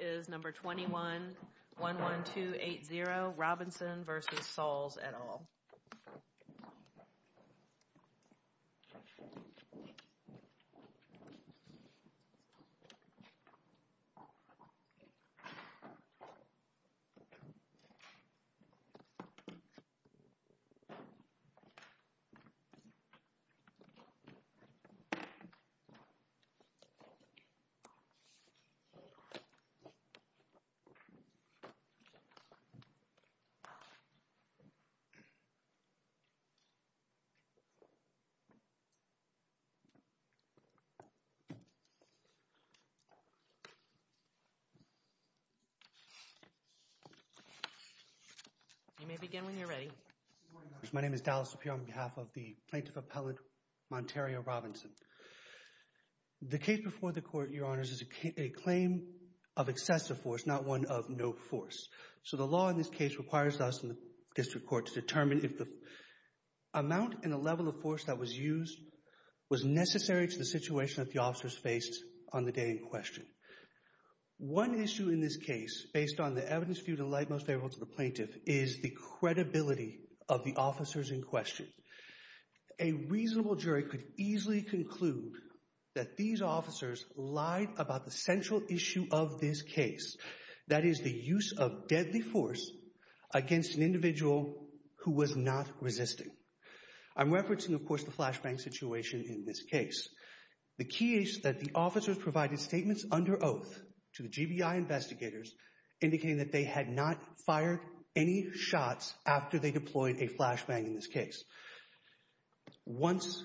is number 21-11280 Robinson versus Sauls et al. You may begin when you're ready. My name is Dallas here on behalf of the plaintiff appellate Monteria Robinson. The case before the court, your honors, is a claim of excessive force, not one of no force. So the law in this case requires us in the district court to determine if the amount and the level of force that was used was necessary to the situation that the officers faced on the day in question. One issue in this case, based on the evidence viewed in light most favorable to the plaintiff, is the credibility of the officers in question. A reasonable jury could easily conclude that these officers lied about the central issue of this case. That is the use of deadly force against an individual who was not resisting. I'm referencing, of course, the flashbang situation in this case. The key is that the officers provided statements under oath to the GBI investigators indicating that they had not fired any shots after they deployed a flashbang in this case. Once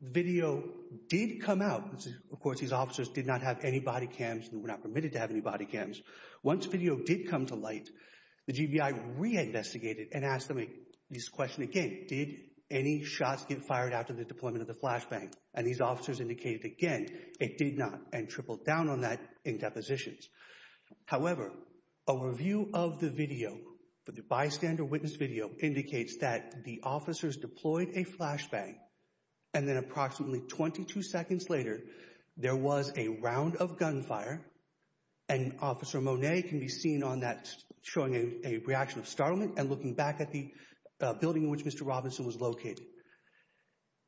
video did come out, of course these officers did not have any body cams and were not permitted to have any body cams. Once video did come to light, the GBI reinvestigated and asked them this question again. Did any shots get fired after the deployment of the flashbang? And these officers indicated again it did not and tripled down on that in depositions. However, a review of the video, the bystander witness video, indicates that the officers deployed a flashbang and then approximately 22 seconds later there was a round of gunfire. And Officer Monet can be seen on that showing a reaction of startlement and looking back at the building in which Mr. Robinson was located.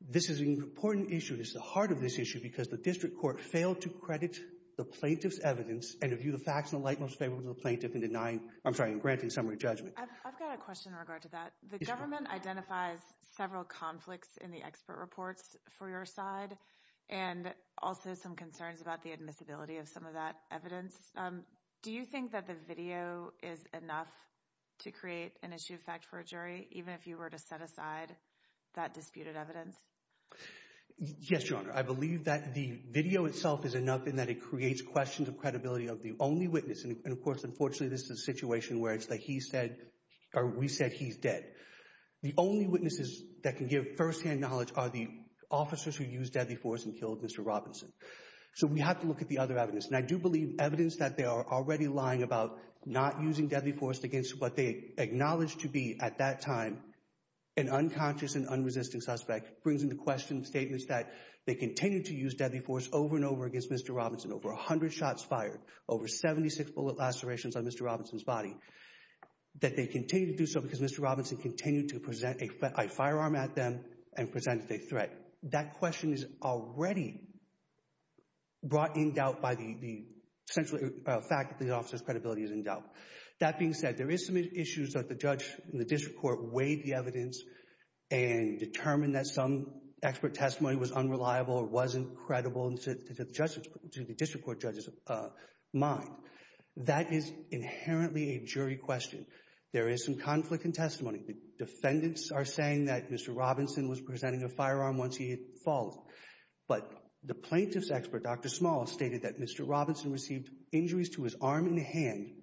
This is an important issue. This is the heart of this issue because the District Court failed to credit the plaintiff's evidence and to view the facts in the light most favorable to the plaintiff in granting summary judgment. I've got a question in regard to that. The government identifies several conflicts in the expert reports for your side and also some concerns about the admissibility of some of that evidence. Do you think that the video is enough to create an issue of fact for a jury even if you were to set aside that disputed evidence? Yes, Your Honor. I believe that the video itself is enough in that it creates questions of credibility of the only witness. And of course, unfortunately, this is a situation where it's like he said or we said he's dead. The only witnesses that can give firsthand knowledge are the officers who used deadly force and killed Mr. Robinson. So we have to look at the other evidence. And I do believe evidence that they are already lying about not using deadly force against what they acknowledge to be at that time an unconscious and unresisting suspect brings into question statements that they continue to use deadly force over and over against Mr. Robinson. Over 100 shots fired. Over 76 bullet lacerations on Mr. Robinson's body. That they continue to do so because Mr. Robinson continued to present a firearm at them and presented a threat. That question is already brought in doubt by the fact that the officer's credibility is in doubt. That being said, there is some issues that the judge in the district court weighed the evidence and determined that some expert testimony was unreliable or wasn't credible to the district court judge's mind. That is inherently a jury question. There is some conflict in testimony. The defendants are saying that Mr. Robinson was presenting a firearm once he had fallen. But the plaintiff's expert, Dr. Small, stated that Mr. Robinson received injuries to his arm and hand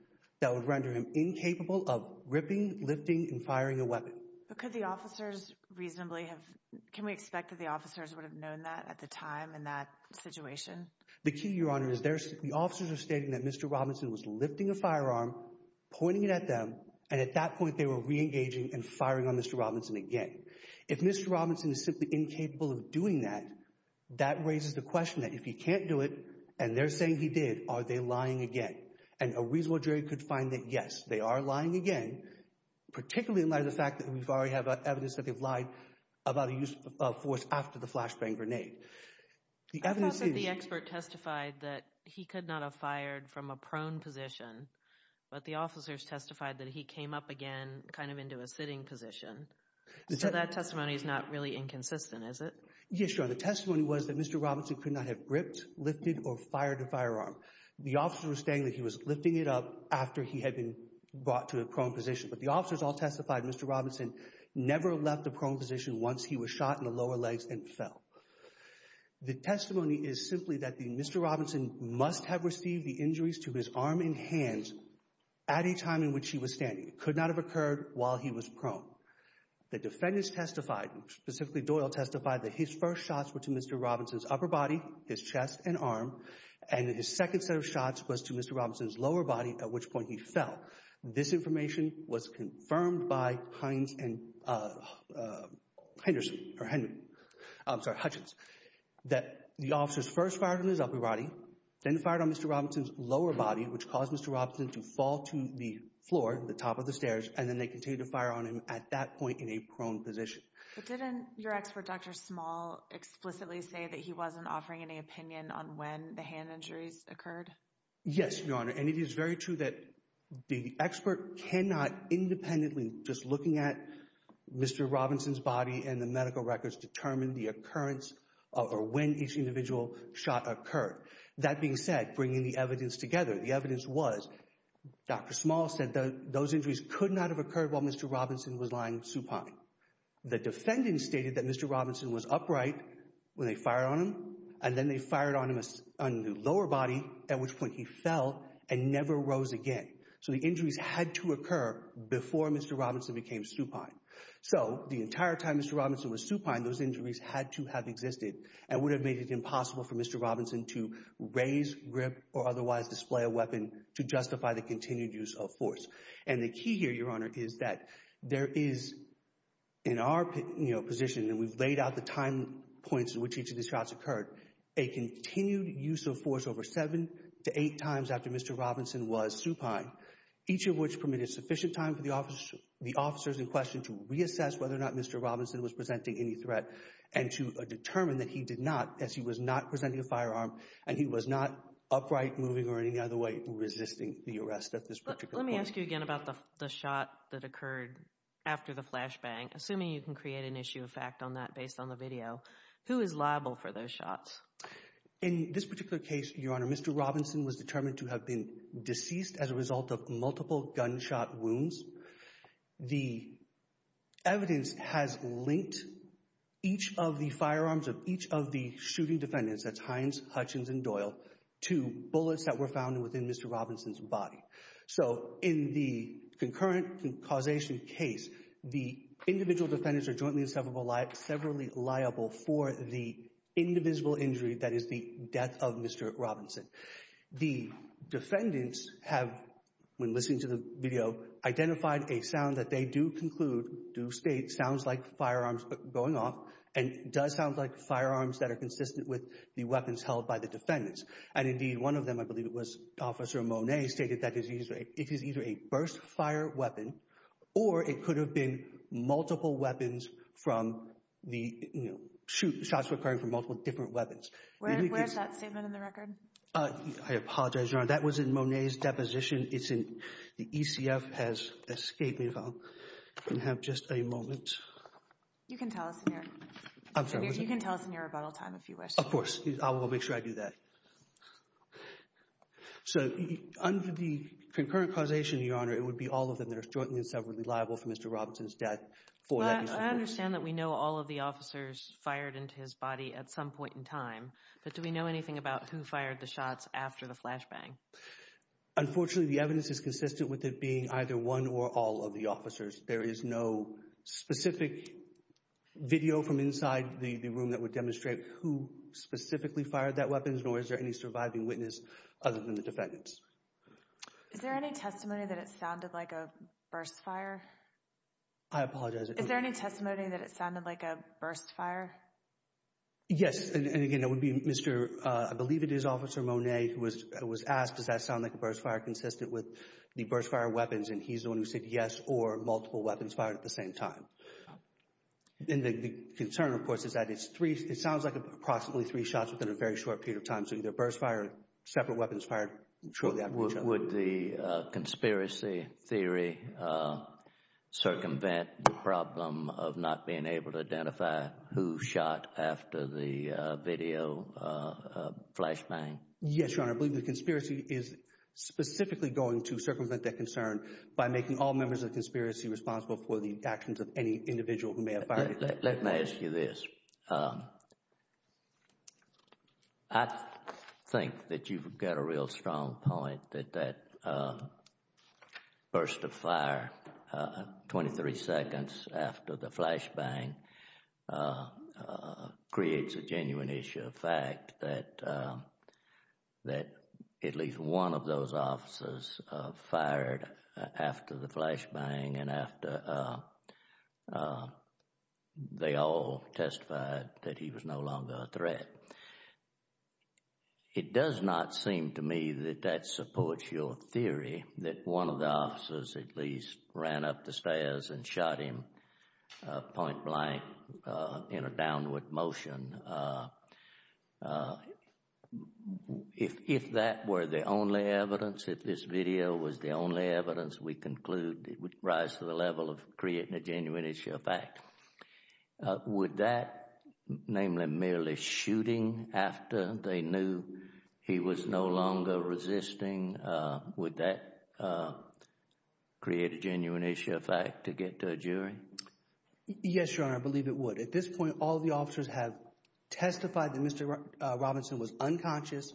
that would render him incapable of ripping, lifting, and firing a weapon. But could the officers reasonably have, can we expect that the officers would have known that at the time in that situation? The key, Your Honor, is the officers are stating that Mr. Robinson was lifting a firearm, pointing it at them, and at that point they were reengaging and firing on Mr. Robinson again. If Mr. Robinson is simply incapable of doing that, that raises the question that if he can't do it and they're saying he did, are they lying again? And a reasonable jury could find that, yes, they are lying again, particularly in light of the fact that we already have evidence that they've lied about a use of force after the flashbang grenade. I thought that the expert testified that he could not have fired from a prone position, but the officers testified that he came up again kind of into a sitting position. So that testimony is not really inconsistent, is it? Yes, Your Honor. The testimony was that Mr. Robinson could not have gripped, lifted, or fired a firearm. The officers were stating that he was lifting it up after he had been brought to a prone position. But the officers all testified Mr. Robinson never left a prone position once he was shot in the lower legs and fell. The testimony is simply that Mr. Robinson must have received the injuries to his arm and hands at a time in which he was standing. It could not have occurred while he was prone. The defendants testified, specifically Doyle testified, that his first shots were to Mr. Robinson's upper body, his chest and arm, and his second set of shots was to Mr. Robinson's lower body, at which point he fell. This information was confirmed by Heinz and Hutchins, that the officers first fired on his upper body, then fired on Mr. Robinson's lower body, which caused Mr. Robinson to fall to the floor, the top of the stairs, and then they continued to fire on him at that point in a prone position. But didn't your expert, Dr. Small, explicitly say that he wasn't offering any opinion on when the hand injuries occurred? Yes, Your Honor, and it is very true that the expert cannot independently, just looking at Mr. Robinson's body and the medical records, determine the occurrence or when each individual shot occurred. That being said, bringing the evidence together, the evidence was Dr. Small said those injuries could not have occurred while Mr. Robinson was lying supine. The defendants stated that Mr. Robinson was upright when they fired on him, and then they fired on him on the lower body, at which point he fell and never rose again. So the injuries had to occur before Mr. Robinson became supine. So the entire time Mr. Robinson was supine, those injuries had to have existed and would have made it impossible for Mr. Robinson to raise, grip, or otherwise display a weapon to justify the continued use of force. And the key here, Your Honor, is that there is, in our position, and we've laid out the time points at which each of these shots occurred, a continued use of force over seven to eight times after Mr. Robinson was supine, each of which permitted sufficient time for the officers in question to reassess whether or not Mr. Robinson was presenting any threat and to determine that he did not, as he was not presenting a firearm, and he was not upright, moving, or in any other way resisting the arrest at this particular point. Let me ask you again about the shot that occurred after the flashbang, assuming you can create an issue of fact on that based on the video. Who is liable for those shots? In this particular case, Your Honor, Mr. Robinson was determined to have been deceased as a result of multiple gunshot wounds. The evidence has linked each of the firearms of each of the shooting defendants, that's Hines, Hutchins, and Doyle, to bullets that were found within Mr. Robinson's body. So, in the concurrent causation case, the individual defendants are jointly and severally liable for the indivisible injury that is the death of Mr. Robinson. The defendants have, when listening to the video, identified a sound that they do conclude sounds like firearms going off and does sound like firearms that are consistent with the weapons held by the defendants. And indeed, one of them, I believe it was Officer Monet, stated that it is either a burst fire weapon or it could have been multiple weapons from the, you know, shots were occurring from multiple different weapons. Where's that statement in the record? I apologize, Your Honor, that was in Monet's deposition. It's in, the ECF has escaped me, if I can have just a moment. You can tell us in your, you can tell us in your rebuttal time if you wish. Of course, I will make sure I do that. So, under the concurrent causation, Your Honor, it would be all of them that are jointly and severally liable for Mr. Robinson's death. I understand that we know all of the officers fired into his body at some point in time, but do we know anything about who fired the shots after the flashbang? Unfortunately, the evidence is consistent with it being either one or all of the officers. There is no specific video from inside the room that would demonstrate who specifically fired that weapons, nor is there any surviving witness other than the defendants. Is there any testimony that it sounded like a burst fire? I apologize. Is there any testimony that it sounded like a burst fire? Yes, and again, it would be Mr., I believe it is Officer Monet who was asked, does that sound like a burst fire consistent with the burst fire weapons? And he's the one who said yes or multiple weapons fired at the same time. And the concern, of course, is that it's three, it sounds like approximately three shots within a very short period of time. So, either a burst fire, separate weapons fired shortly after each other. Would the conspiracy theory circumvent the problem of not being able to identify who shot after the video flashbang? Yes, Your Honor, I believe the conspiracy is specifically going to circumvent that concern by making all members of the conspiracy responsible for the actions of any individual who may have fired. All right, let me ask you this. I think that you've got a real strong point that that burst of fire 23 seconds after the flashbang creates a genuine issue, the fact that at least one of those officers fired after the flashbang and after they all testified that he was no longer a threat. It does not seem to me that that supports your theory that one of the officers at least ran up the stairs and shot him point blank in a downward motion. If that were the only evidence, if this video was the only evidence, we conclude it would rise to the level of creating a genuine issue of fact. Would that, namely merely shooting after they knew he was no longer resisting, would that create a genuine issue of fact to get to a jury? Yes, Your Honor, I believe it would. At this point, all the officers have testified that Mr. Robinson was unconscious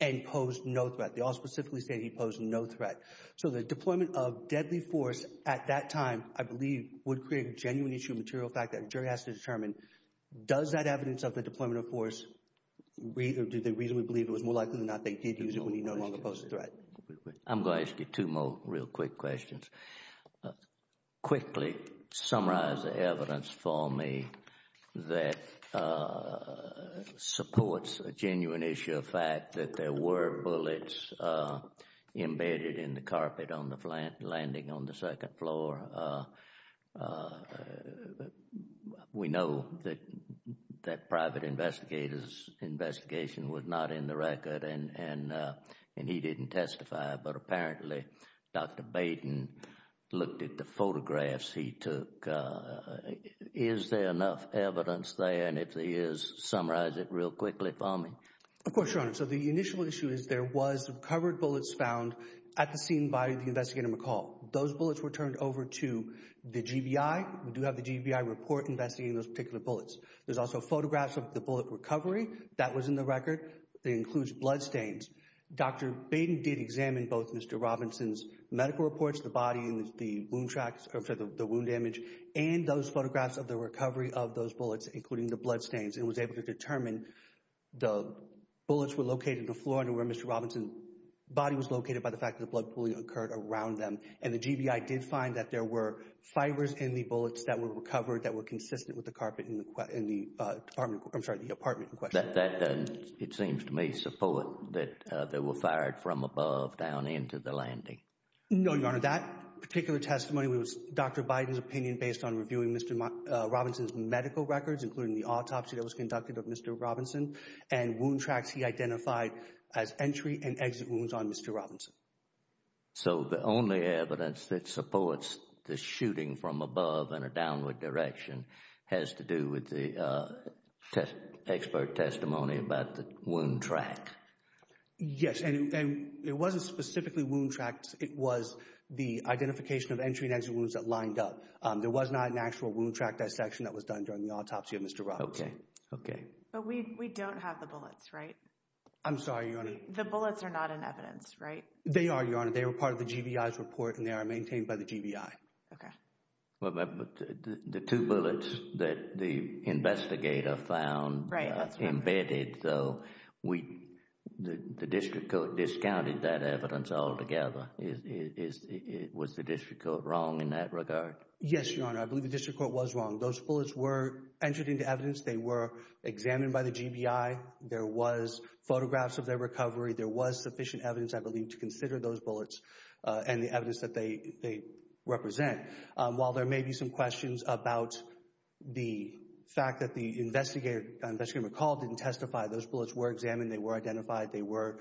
and posed no threat. They all specifically say he posed no threat. So the deployment of deadly force at that time, I believe, would create a genuine issue of material fact that a jury has to determine. Does that evidence of the deployment of force, do they reasonably believe it was more likely than not they did use it when he no longer posed a threat? I'm going to ask you two more real quick questions. Quickly summarize the evidence for me that supports a genuine issue of fact that there were bullets embedded in the carpet on the landing on the second floor. We know that that private investigator's investigation was not in the record and he didn't testify, but apparently Dr. Baden looked at the photographs he took. Is there enough evidence there? And if there is, summarize it real quickly for me. Of course, Your Honor. So the initial issue is there was covered bullets found at the scene by the investigator McCall. Those bullets were turned over to the GBI. We do have the GBI report investigating those particular bullets. There's also photographs of the bullet recovery. That was in the record. It includes bloodstains. Dr. Baden did examine both Mr. Robinson's medical reports, the body and the wound tracks, or I'm sorry, the wound image, and those photographs of the recovery of those bullets, including the bloodstains, and was able to determine the bullets were located on the floor under where Mr. Robinson's body was located by the fact that blood pooling occurred around them. And the GBI did find that there were fibers in the bullets that were recovered that were consistent with the carpet in the apartment, I'm sorry, the apartment in question. That doesn't, it seems to me, support that they were fired from above down into the landing. No, Your Honor. That particular testimony was Dr. Baden's opinion based on reviewing Mr. Robinson's medical records, including the autopsy that was conducted of Mr. Robinson and wound tracks he identified as entry and exit wounds on Mr. Robinson. So the only evidence that supports the shooting from above in a downward direction has to do with the expert testimony about the wound track. Yes, and it wasn't specifically wound tracks. It was the identification of entry and exit wounds that lined up. There was not an actual wound track dissection that was done during the autopsy of Mr. Robinson. Okay, okay. But we don't have the bullets, right? I'm sorry, Your Honor. The bullets are not in evidence, right? They are, Your Honor. They were part of the GBI's report, and they are maintained by the GBI. Okay. But the two bullets that the investigator found embedded, so the district court discounted that evidence altogether. Was the district court wrong in that regard? Yes, Your Honor. I believe the district court was wrong. Those bullets were entered into evidence. They were examined by the GBI. There was photographs of their recovery. There was sufficient evidence, I believe, to consider those bullets and the evidence that they represent. While there may be some questions about the fact that the investigator, investigator McCall, didn't testify, those bullets were examined. They were identified. They were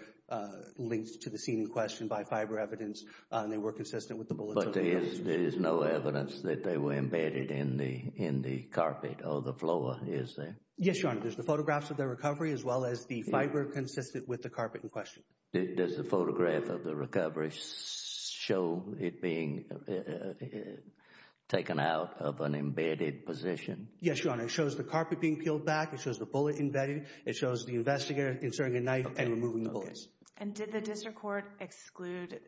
linked to the scene in question by fiber evidence, and they were consistent with the bullets. But there is no evidence that they were embedded in the carpet or the floor, is there? Yes, Your Honor. There's the photographs of their recovery as well as the fiber consistent with the carpet in question. Does the photograph of the recovery show it being taken out of an embedded position? Yes, Your Honor. It shows the carpet being peeled back. It shows the bullet embedded. It shows the investigator inserting a knife and removing the bullets. And did the district court exclude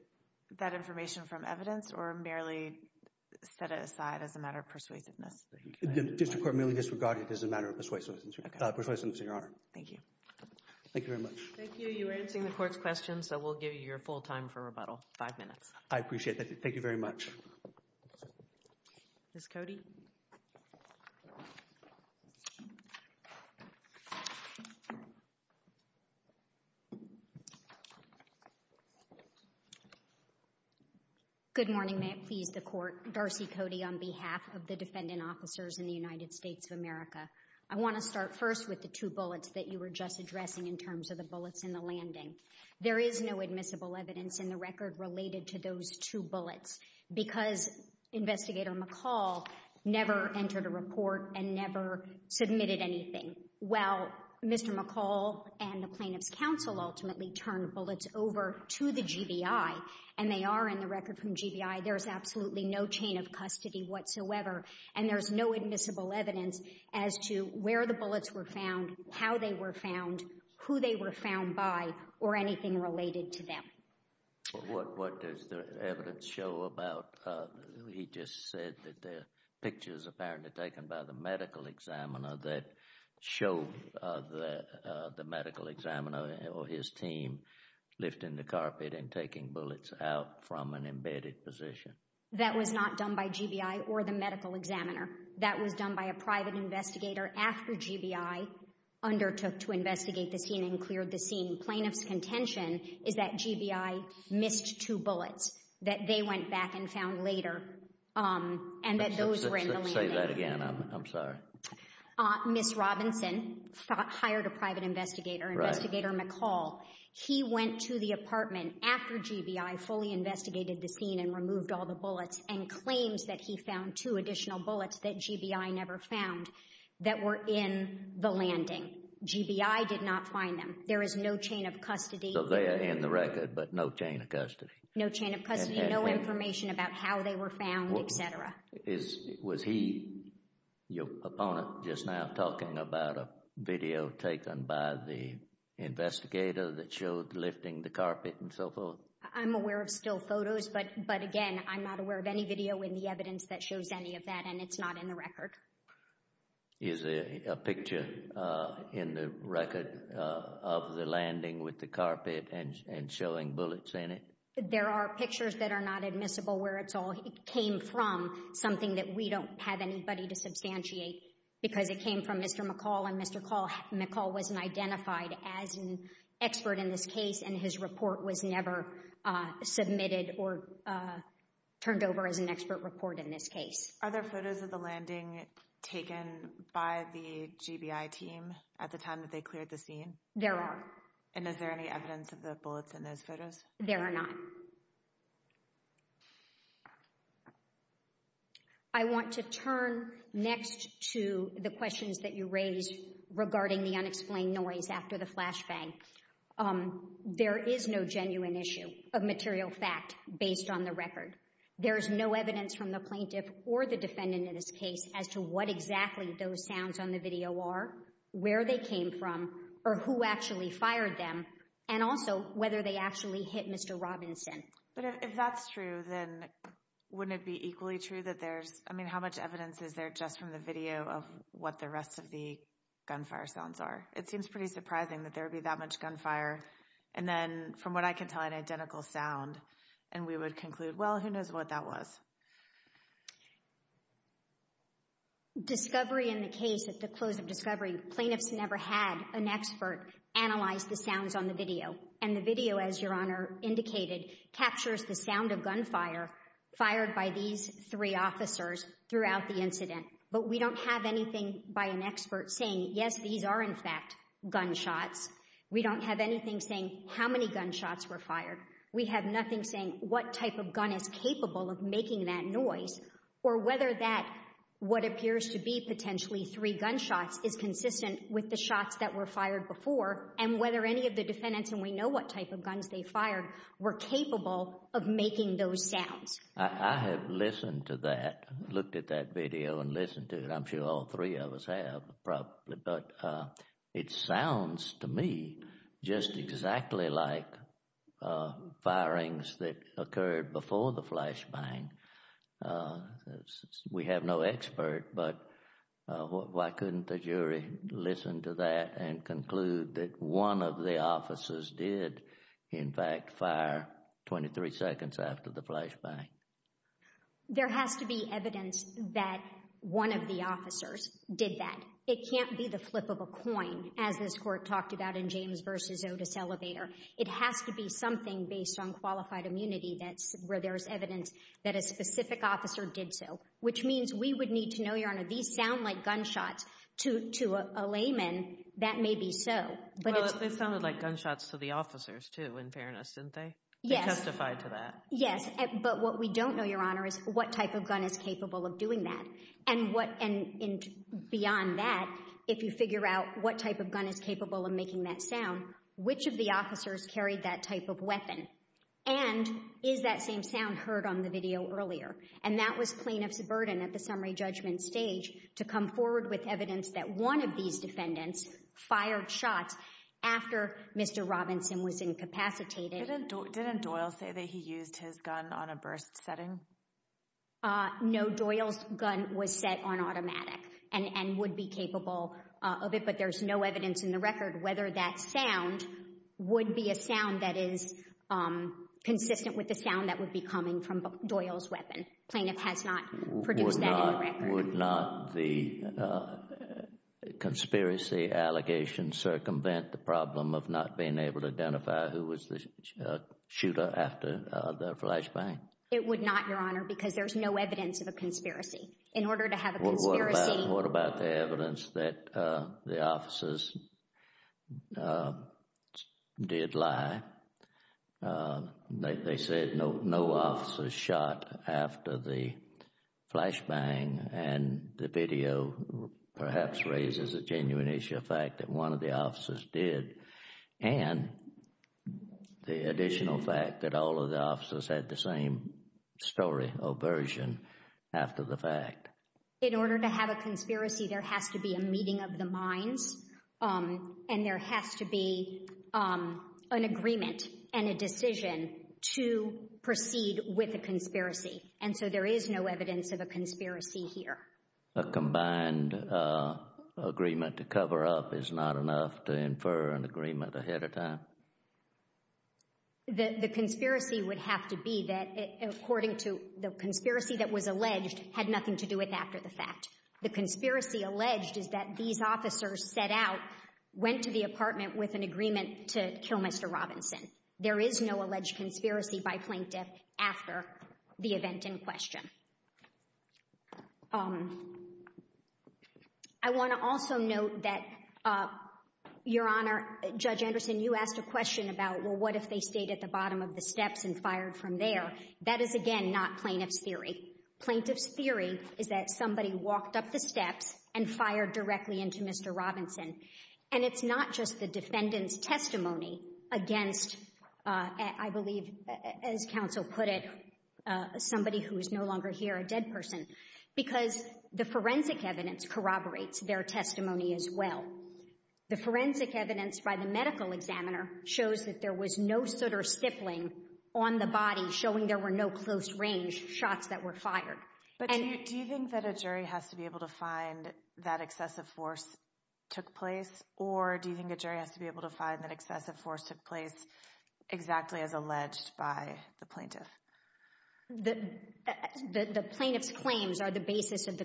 that information from evidence or merely set it aside as a matter of persuasiveness? The district court merely disregarded it as a matter of persuasiveness, Your Honor. Thank you. Thank you very much. Thank you. You're answering the court's questions, so we'll give you your full time for rebuttal, five minutes. Thank you very much. Ms. Cody. Good morning. May it please the court. Darcy Cody on behalf of the defendant officers in the United States of America. I want to start first with the two bullets that you were just addressing in terms of the bullets in the landing. There is no admissible evidence in the record related to those two bullets because Investigator McCall never entered a report and never submitted anything. Well, Mr. McCall and the plaintiff's counsel ultimately turned the bullets over to the GBI, and they are in the record from GBI. There is absolutely no chain of custody whatsoever, and there is no admissible evidence as to where the bullets were found, how they were found, who they were found by, or anything related to them. What does the evidence show about, he just said that the pictures apparently taken by the medical examiner that show the medical examiner or his team lifting the carpet and taking bullets out from an embedded position. That was not done by GBI or the medical examiner. That was done by a private investigator after GBI undertook to investigate the scene and cleared the scene. Plaintiff's contention is that GBI missed two bullets that they went back and found later, and that those were in the landing. Say that again. I'm sorry. Ms. Robinson hired a private investigator, Investigator McCall. He went to the apartment after GBI fully investigated the scene and removed all the bullets and claims that he found two additional bullets that GBI never found that were in the landing. GBI did not find them. There is no chain of custody. So they are in the record, but no chain of custody. No chain of custody, no information about how they were found, et cetera. Was he, your opponent, just now talking about a video taken by the investigator that showed lifting the carpet and so forth? I'm aware of still photos, but again, I'm not aware of any video in the evidence that shows any of that, and it's not in the record. Is there a picture in the record of the landing with the carpet and showing bullets in it? There are pictures that are not admissible where it came from, something that we don't have anybody to substantiate because it came from Mr. McCall, and Mr. McCall wasn't identified as an expert in this case, and his report was never submitted or turned over as an expert report in this case. Are there photos of the landing taken by the GBI team at the time that they cleared the scene? There are. And is there any evidence of the bullets in those photos? There are not. I want to turn next to the questions that you raised regarding the unexplained noise after the flashbang. There is no genuine issue of material fact based on the record. There is no evidence from the plaintiff or the defendant in this case as to what exactly those sounds on the video are, where they came from, or who actually fired them, and also whether they actually hit Mr. Robinson. But if that's true, then wouldn't it be equally true that there's, I mean, how much evidence is there just from the video of what the rest of the gunfire sounds are? It seems pretty surprising that there would be that much gunfire, and then, from what I can tell, an identical sound, and we would conclude, well, who knows what that was. Discovery in the case, at the close of discovery, plaintiffs never had an expert analyze the sounds on the video, and the video, as Your Honor indicated, captures the sound of gunfire fired by these three officers throughout the incident. But we don't have anything by an expert saying, yes, these are, in fact, gunshots. We don't have anything saying how many gunshots were fired. We have nothing saying what type of gun is capable of making that noise, or whether that what appears to be potentially three gunshots is consistent with the shots that were fired before, and whether any of the defendants, and we know what type of guns they fired, were capable of making those sounds. I have listened to that, looked at that video and listened to it. I'm sure all three of us have probably, but it sounds to me just exactly like firings that occurred before the flashbang. We have no expert, but why couldn't the jury listen to that and conclude that one of the officers did, in fact, fire 23 seconds after the flashbang? There has to be evidence that one of the officers did that. It can't be the flip of a coin, as this Court talked about in James v. Otis Elevator. It has to be something based on qualified immunity where there is evidence that a specific officer did so, which means we would need to know, Your Honor, these sound like gunshots to a layman. That may be so. Well, they sounded like gunshots to the officers, too, in fairness, didn't they? Yes. They testified to that. Yes. But what we don't know, Your Honor, is what type of gun is capable of doing that. And beyond that, if you figure out what type of gun is capable of making that sound, which of the officers carried that type of weapon? And is that same sound heard on the video earlier? And that was plaintiff's burden at the summary judgment stage to come forward with evidence that one of these defendants fired shots after Mr. Robinson was incapacitated. Didn't Doyle say that he used his gun on a burst setting? No. Doyle's gun was set on automatic and would be capable of it, but there's no evidence in the record whether that sound would be a sound that is consistent with the sound that would be coming from Doyle's weapon. Plaintiff has not produced that in the record. Would not the conspiracy allegation circumvent the problem of not being able to identify who was the shooter after the flashbang? It would not, Your Honor, because there's no evidence of a conspiracy. In order to have a conspiracy— What about the evidence that the officers did lie? They said no officers shot after the flashbang, and the video perhaps raises a genuine issue of fact that one of the officers did, and the additional fact that all of the officers had the same story or version after the fact. In order to have a conspiracy, there has to be a meeting of the minds, and there has to be an agreement and a decision to proceed with a conspiracy, and so there is no evidence of a conspiracy here. A combined agreement to cover up is not enough to infer an agreement ahead of time? The conspiracy would have to be that, according to the conspiracy that was alleged, had nothing to do with after the fact. The conspiracy alleged is that these officers set out, went to the apartment with an agreement to kill Mr. Robinson. There is no alleged conspiracy by plaintiff after the event in question. I want to also note that, Your Honor, Judge Anderson, you asked a question about, well, what if they stayed at the bottom of the steps and fired from there? That is, again, not plaintiff's theory. Plaintiff's theory is that somebody walked up the steps and fired directly into Mr. Robinson, and it's not just the defendant's testimony against, I believe, as counsel put it, somebody who is no longer here, a dead person, because the forensic evidence corroborates their testimony as well. The forensic evidence by the medical examiner shows that there was no sooter stippling on the body showing there were no close-range shots that were fired. But do you think that a jury has to be able to find that excessive force took place, or do you think a jury has to be able to find that excessive force took place exactly as alleged by the plaintiff? The plaintiff's claims are the basis of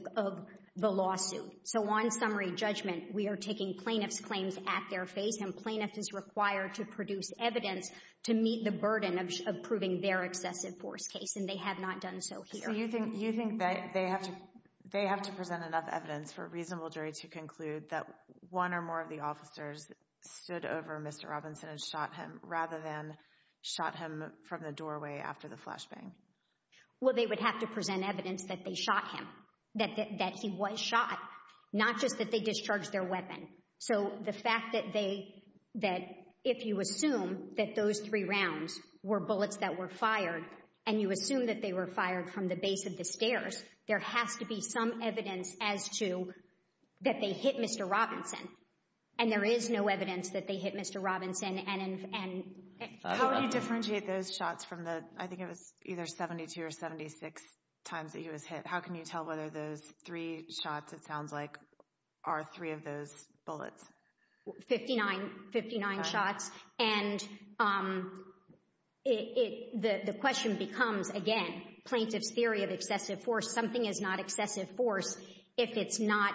the lawsuit. So on summary judgment, we are taking plaintiff's claims at their face, and plaintiff is required to produce evidence to meet the burden of proving their excessive force case, and they have not done so here. So you think that they have to present enough evidence for a reasonable jury to conclude that one or more of the officers stood over Mr. Robinson and shot him rather than shot him from the doorway after the flashbang? Well, they would have to present evidence that they shot him, that he was shot, not just that they discharged their weapon. So the fact that if you assume that those three rounds were bullets that were fired and you assume that they were fired from the base of the stairs, there has to be some evidence as to that they hit Mr. Robinson, and there is no evidence that they hit Mr. Robinson. How do you differentiate those shots from the, I think it was either 72 or 76 times that he was hit? How can you tell whether those three shots, it sounds like, are three of those bullets? Fifty-nine shots, and the question becomes, again, plaintiff's theory of excessive force, something is not excessive force if it's not,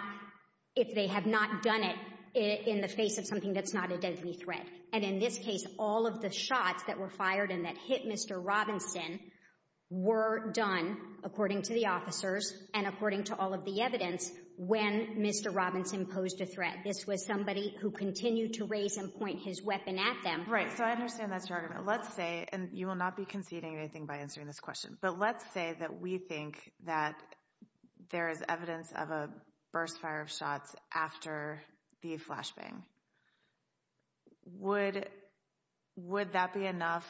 if they have not done it in the face of something that's not a deadly threat. And in this case, all of the shots that were fired and that hit Mr. Robinson were done, according to the officers and according to all of the evidence, when Mr. Robinson posed a threat. This was somebody who continued to raise and point his weapon at them. Right, so I understand that's your argument. Let's say, and you will not be conceding anything by answering this question, but let's say that we think that there is evidence of a burst fire of shots after the flashbang. Would that be enough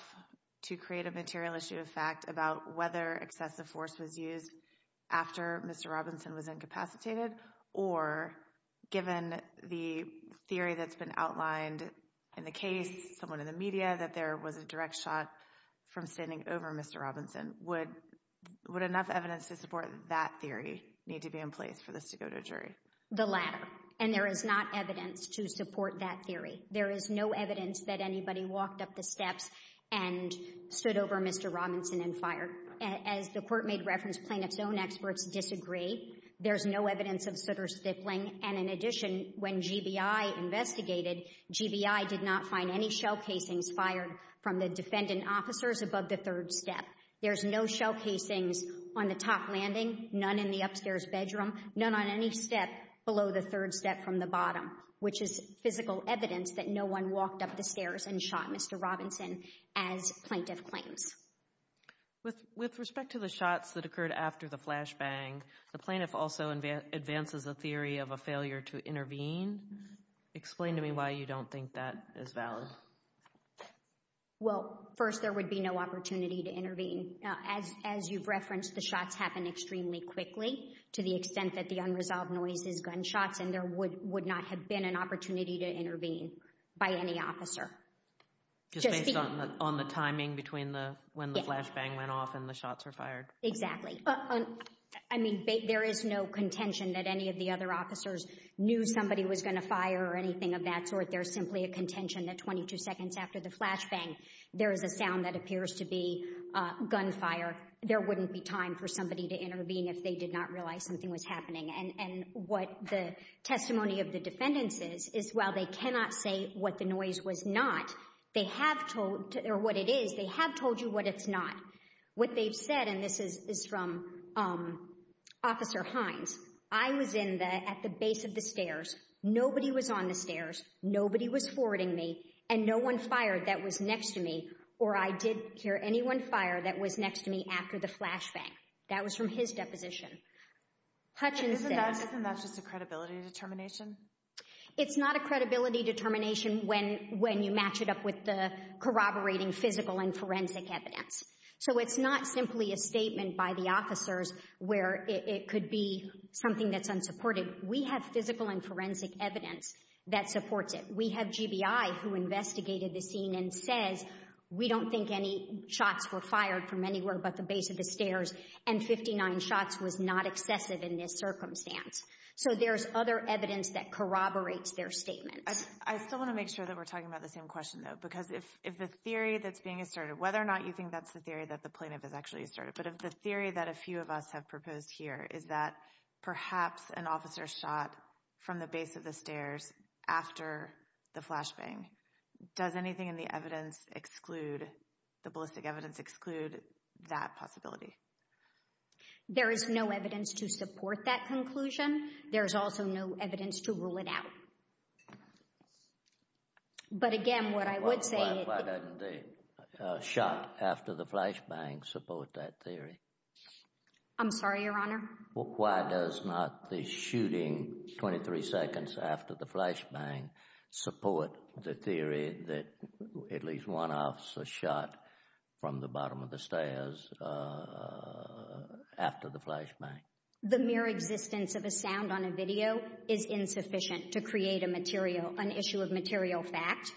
to create a material issue of fact about whether excessive force was used after Mr. Robinson was incapacitated? Or, given the theory that's been outlined in the case, someone in the media, that there was a direct shot from standing over Mr. Robinson, would enough evidence to support that theory need to be in place for this to go to a jury? The latter. And there is not evidence to support that theory. There is no evidence that anybody walked up the steps and stood over Mr. Robinson and fired. As the Court made reference, plaintiffs' own experts disagree. There's no evidence of sooter-stippling. And in addition, when GBI investigated, GBI did not find any shell casings fired from the defendant officers above the third step. There's no shell casings on the top landing, none in the upstairs bedroom, none on any step below the third step from the bottom, which is physical evidence that no one walked up the stairs and shot Mr. Robinson, as plaintiff claims. With respect to the shots that occurred after the flashbang, the plaintiff also advances a theory of a failure to intervene. Explain to me why you don't think that is valid. As you've referenced, the shots happen extremely quickly to the extent that the unresolved noise is gunshots, and there would not have been an opportunity to intervene by any officer. Just based on the timing between when the flashbang went off and the shots were fired? Exactly. I mean, there is no contention that any of the other officers knew somebody was going to fire or anything of that sort. There's simply a contention that 22 seconds after the flashbang, there is a sound that appears to be gunfire. There wouldn't be time for somebody to intervene if they did not realize something was happening. And what the testimony of the defendants is, is while they cannot say what the noise was not, or what it is, they have told you what it's not. What they've said, and this is from Officer Hines, I was at the base of the stairs, nobody was on the stairs, nobody was forwarding me, and no one fired that was next to me, or I did hear anyone fire that was next to me after the flashbang. That was from his deposition. Isn't that just a credibility determination? It's not a credibility determination when you match it up with the corroborating physical and forensic evidence. So it's not simply a statement by the officers where it could be something that's unsupported. We have physical and forensic evidence that supports it. We have GBI who investigated the scene and says, we don't think any shots were fired from anywhere but the base of the stairs, and 59 shots was not excessive in this circumstance. So there's other evidence that corroborates their statement. I still want to make sure that we're talking about the same question, though, because if the theory that's being asserted, whether or not you think that's the theory that the plaintiff has actually asserted, but if the theory that a few of us have proposed here is that perhaps an officer shot from the base of the stairs after the flashbang, does anything in the evidence exclude, the ballistic evidence exclude, that possibility? There is no evidence to support that conclusion. There's also no evidence to rule it out. But again, what I would say— Why didn't the shot after the flashbang support that theory? I'm sorry, Your Honor? Why does not the shooting 23 seconds after the flashbang support the theory that at least one officer shot from the bottom of the stairs after the flashbang? The mere existence of a sound on a video is insufficient to create a material— an issue of material fact,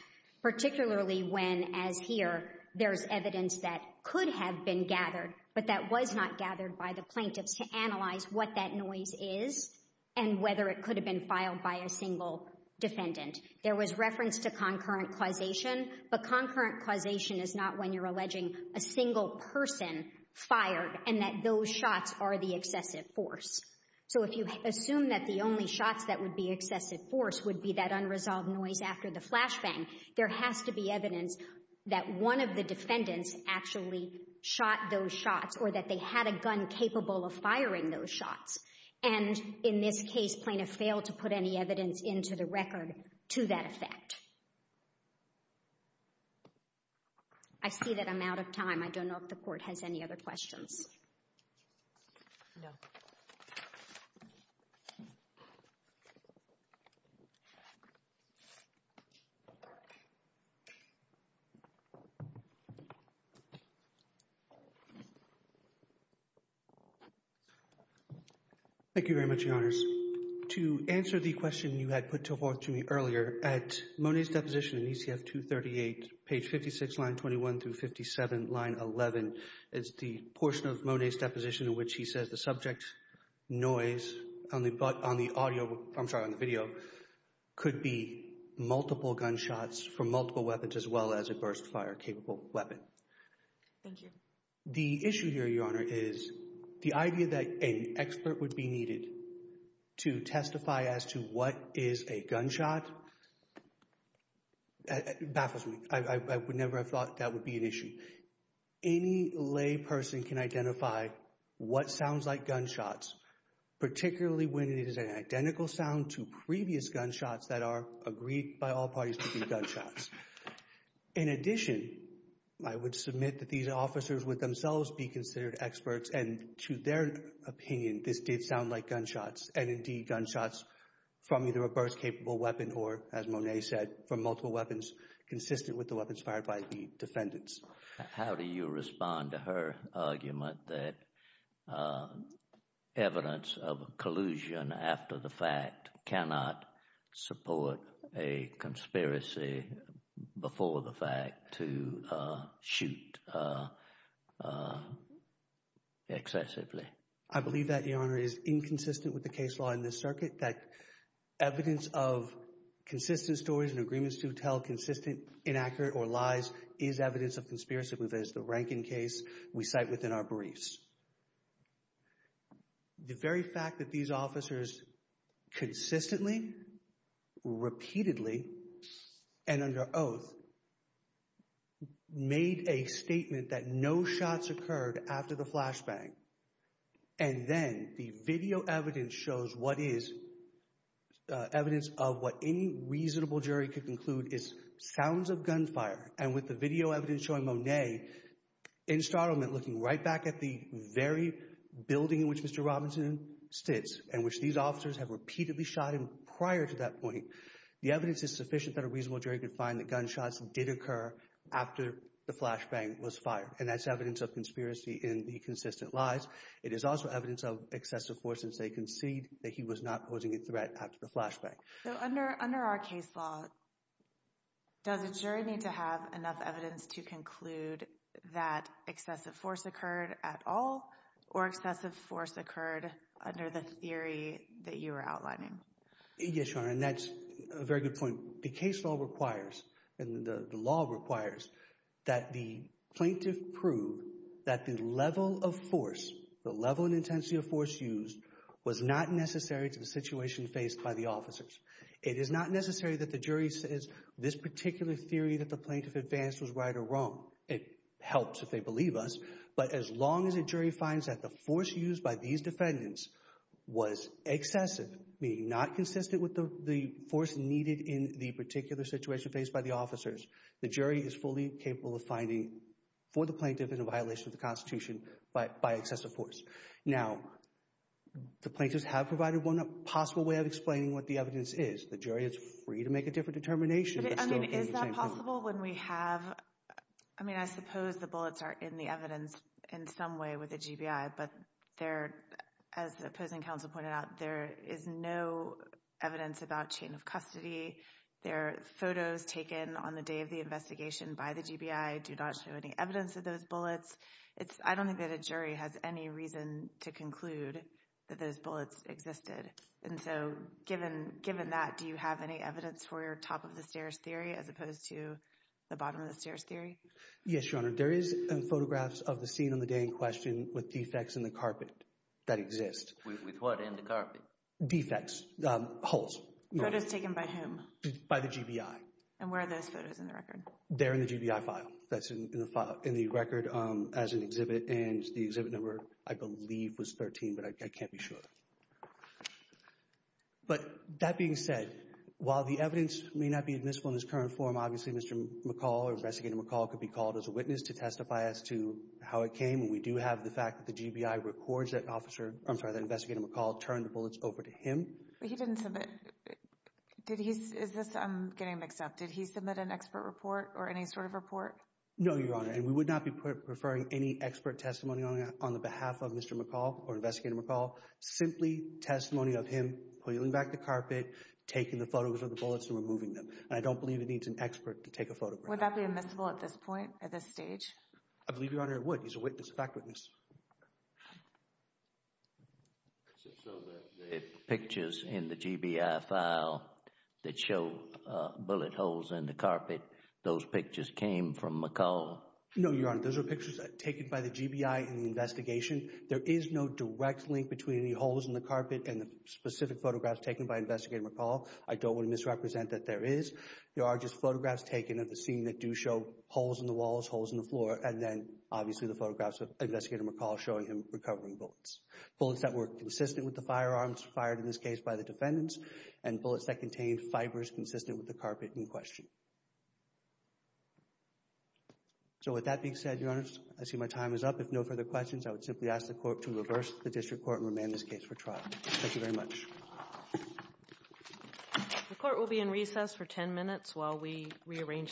particularly when, as here, there's evidence that could have been gathered, but that was not gathered by the plaintiffs to analyze what that noise is and whether it could have been filed by a single defendant. There was reference to concurrent causation, but concurrent causation is not when you're alleging a single person fired and that those shots are the excessive force. So if you assume that the only shots that would be excessive force would be that unresolved noise after the flashbang, there has to be evidence that one of the defendants actually shot those shots or that they had a gun capable of firing those shots. And in this case, plaintiffs failed to put any evidence into the record to that effect. I see that I'm out of time. I don't know if the Court has any other questions. No. Thank you very much, Your Honors. To answer the question you had put forth to me earlier, at Monet's deposition in ECF 238, page 56, line 21 through 57, line 11, is the portion of Monet's deposition in which he says the subject noise on the audio – I'm sorry, on the video – could be multiple gunshots from multiple weapons as well as a burst fire capable weapon. Thank you. The issue here, Your Honor, is the idea that an expert would be needed to testify as to what is a gunshot baffles me. I would never have thought that would be an issue. Any lay person can identify what sounds like gunshots, particularly when it is an identical sound to previous gunshots that are agreed by all parties to be gunshots. In addition, I would submit that these officers would themselves be considered experts and, to their opinion, this did sound like gunshots and, indeed, gunshots from either a burst capable weapon or, as Monet said, from multiple weapons consistent with the weapons fired by the defendants. How do you respond to her argument that evidence of collusion after the fact cannot support a conspiracy before the fact to shoot excessively? I believe that, Your Honor, is inconsistent with the case law in this circuit, that evidence of consistent stories and agreements to tell consistent, inaccurate, or lies is evidence of conspiracy. That is the Rankin case we cite within our briefs. The very fact that these officers consistently, repeatedly, and under oath made a statement that no shots occurred after the flashbang and then the video evidence shows what is evidence of what any reasonable jury could conclude is sounds of gunfire, and with the video evidence showing Monet in startlement looking right back at the very building in which Mr. Robinson sits and which these officers have repeatedly shot him prior to that point, the evidence is sufficient that a reasonable jury could find that gunshots did occur after the flashbang was fired, and that's evidence of conspiracy in the consistent lies. It is also evidence of excessive force since they concede that he was not posing a threat after the flashbang. So under our case law, does a jury need to have enough evidence to conclude that excessive force occurred at all, or excessive force occurred under the theory that you are outlining? Yes, Your Honor, and that's a very good point. The case law requires and the law requires that the plaintiff prove that the level of force, the level and intensity of force used, was not necessary to the situation faced by the officers. It is not necessary that the jury says this particular theory that the plaintiff advanced was right or wrong. It helps if they believe us, but as long as a jury finds that the force used by these defendants was excessive, meaning not consistent with the force needed in the particular situation faced by the officers, the jury is fully capable of finding for the plaintiff in a violation of the Constitution by excessive force. Now, the plaintiffs have provided one possible way of explaining what the evidence is. The jury is free to make a different determination. I mean, is that possible when we have, I mean, I suppose the bullets are in the evidence in some way with the GBI, but there, as the opposing counsel pointed out, there is no evidence about chain of custody. There are photos taken on the day of the investigation by the GBI do not show any evidence of those bullets. I don't think that a jury has any reason to conclude that those bullets existed. And so given that, do you have any evidence for your top-of-the-stairs theory as opposed to the bottom-of-the-stairs theory? Yes, Your Honor. There is photographs of the scene on the day in question with defects in the carpet that exist. With what in the carpet? Defects, holes. Photos taken by whom? By the GBI. And where are those photos in the record? They're in the GBI file that's in the record as an exhibit, and the exhibit number, I believe, was 13, but I can't be sure. But that being said, while the evidence may not be admissible in its current form, obviously Mr. McCall or Investigator McCall could be called as a witness to testify as to how it came, and we do have the fact that the GBI records that Investigator McCall turned the bullets over to him. But he didn't submit. I'm getting mixed up. Did he submit an expert report or any sort of report? No, Your Honor, and we would not be preferring any expert testimony on the behalf of Mr. McCall or Investigator McCall, simply testimony of him pulling back the carpet, taking the photos of the bullets, and removing them. And I don't believe it needs an expert to take a photograph. Would that be admissible at this point, at this stage? I believe, Your Honor, it would. He's a witness, a fact witness. So the pictures in the GBI file that show bullet holes in the carpet, those pictures came from McCall? No, Your Honor, those are pictures taken by the GBI in the investigation. There is no direct link between the holes in the carpet and the specific photographs taken by Investigator McCall. I don't want to misrepresent that there is. There are just photographs taken of the scene that do show holes in the walls, holes in the floor, and then obviously the photographs of Investigator McCall showing him recovering bullets, bullets that were consistent with the firearms fired in this case by the defendants and bullets that contained fibers consistent with the carpet in question. So with that being said, Your Honor, I see my time is up. If no further questions, I would simply ask the Court to reverse the district court and remand this case for trial. Thank you very much. The Court will be in recess for 10 minutes while we rearrange the panel.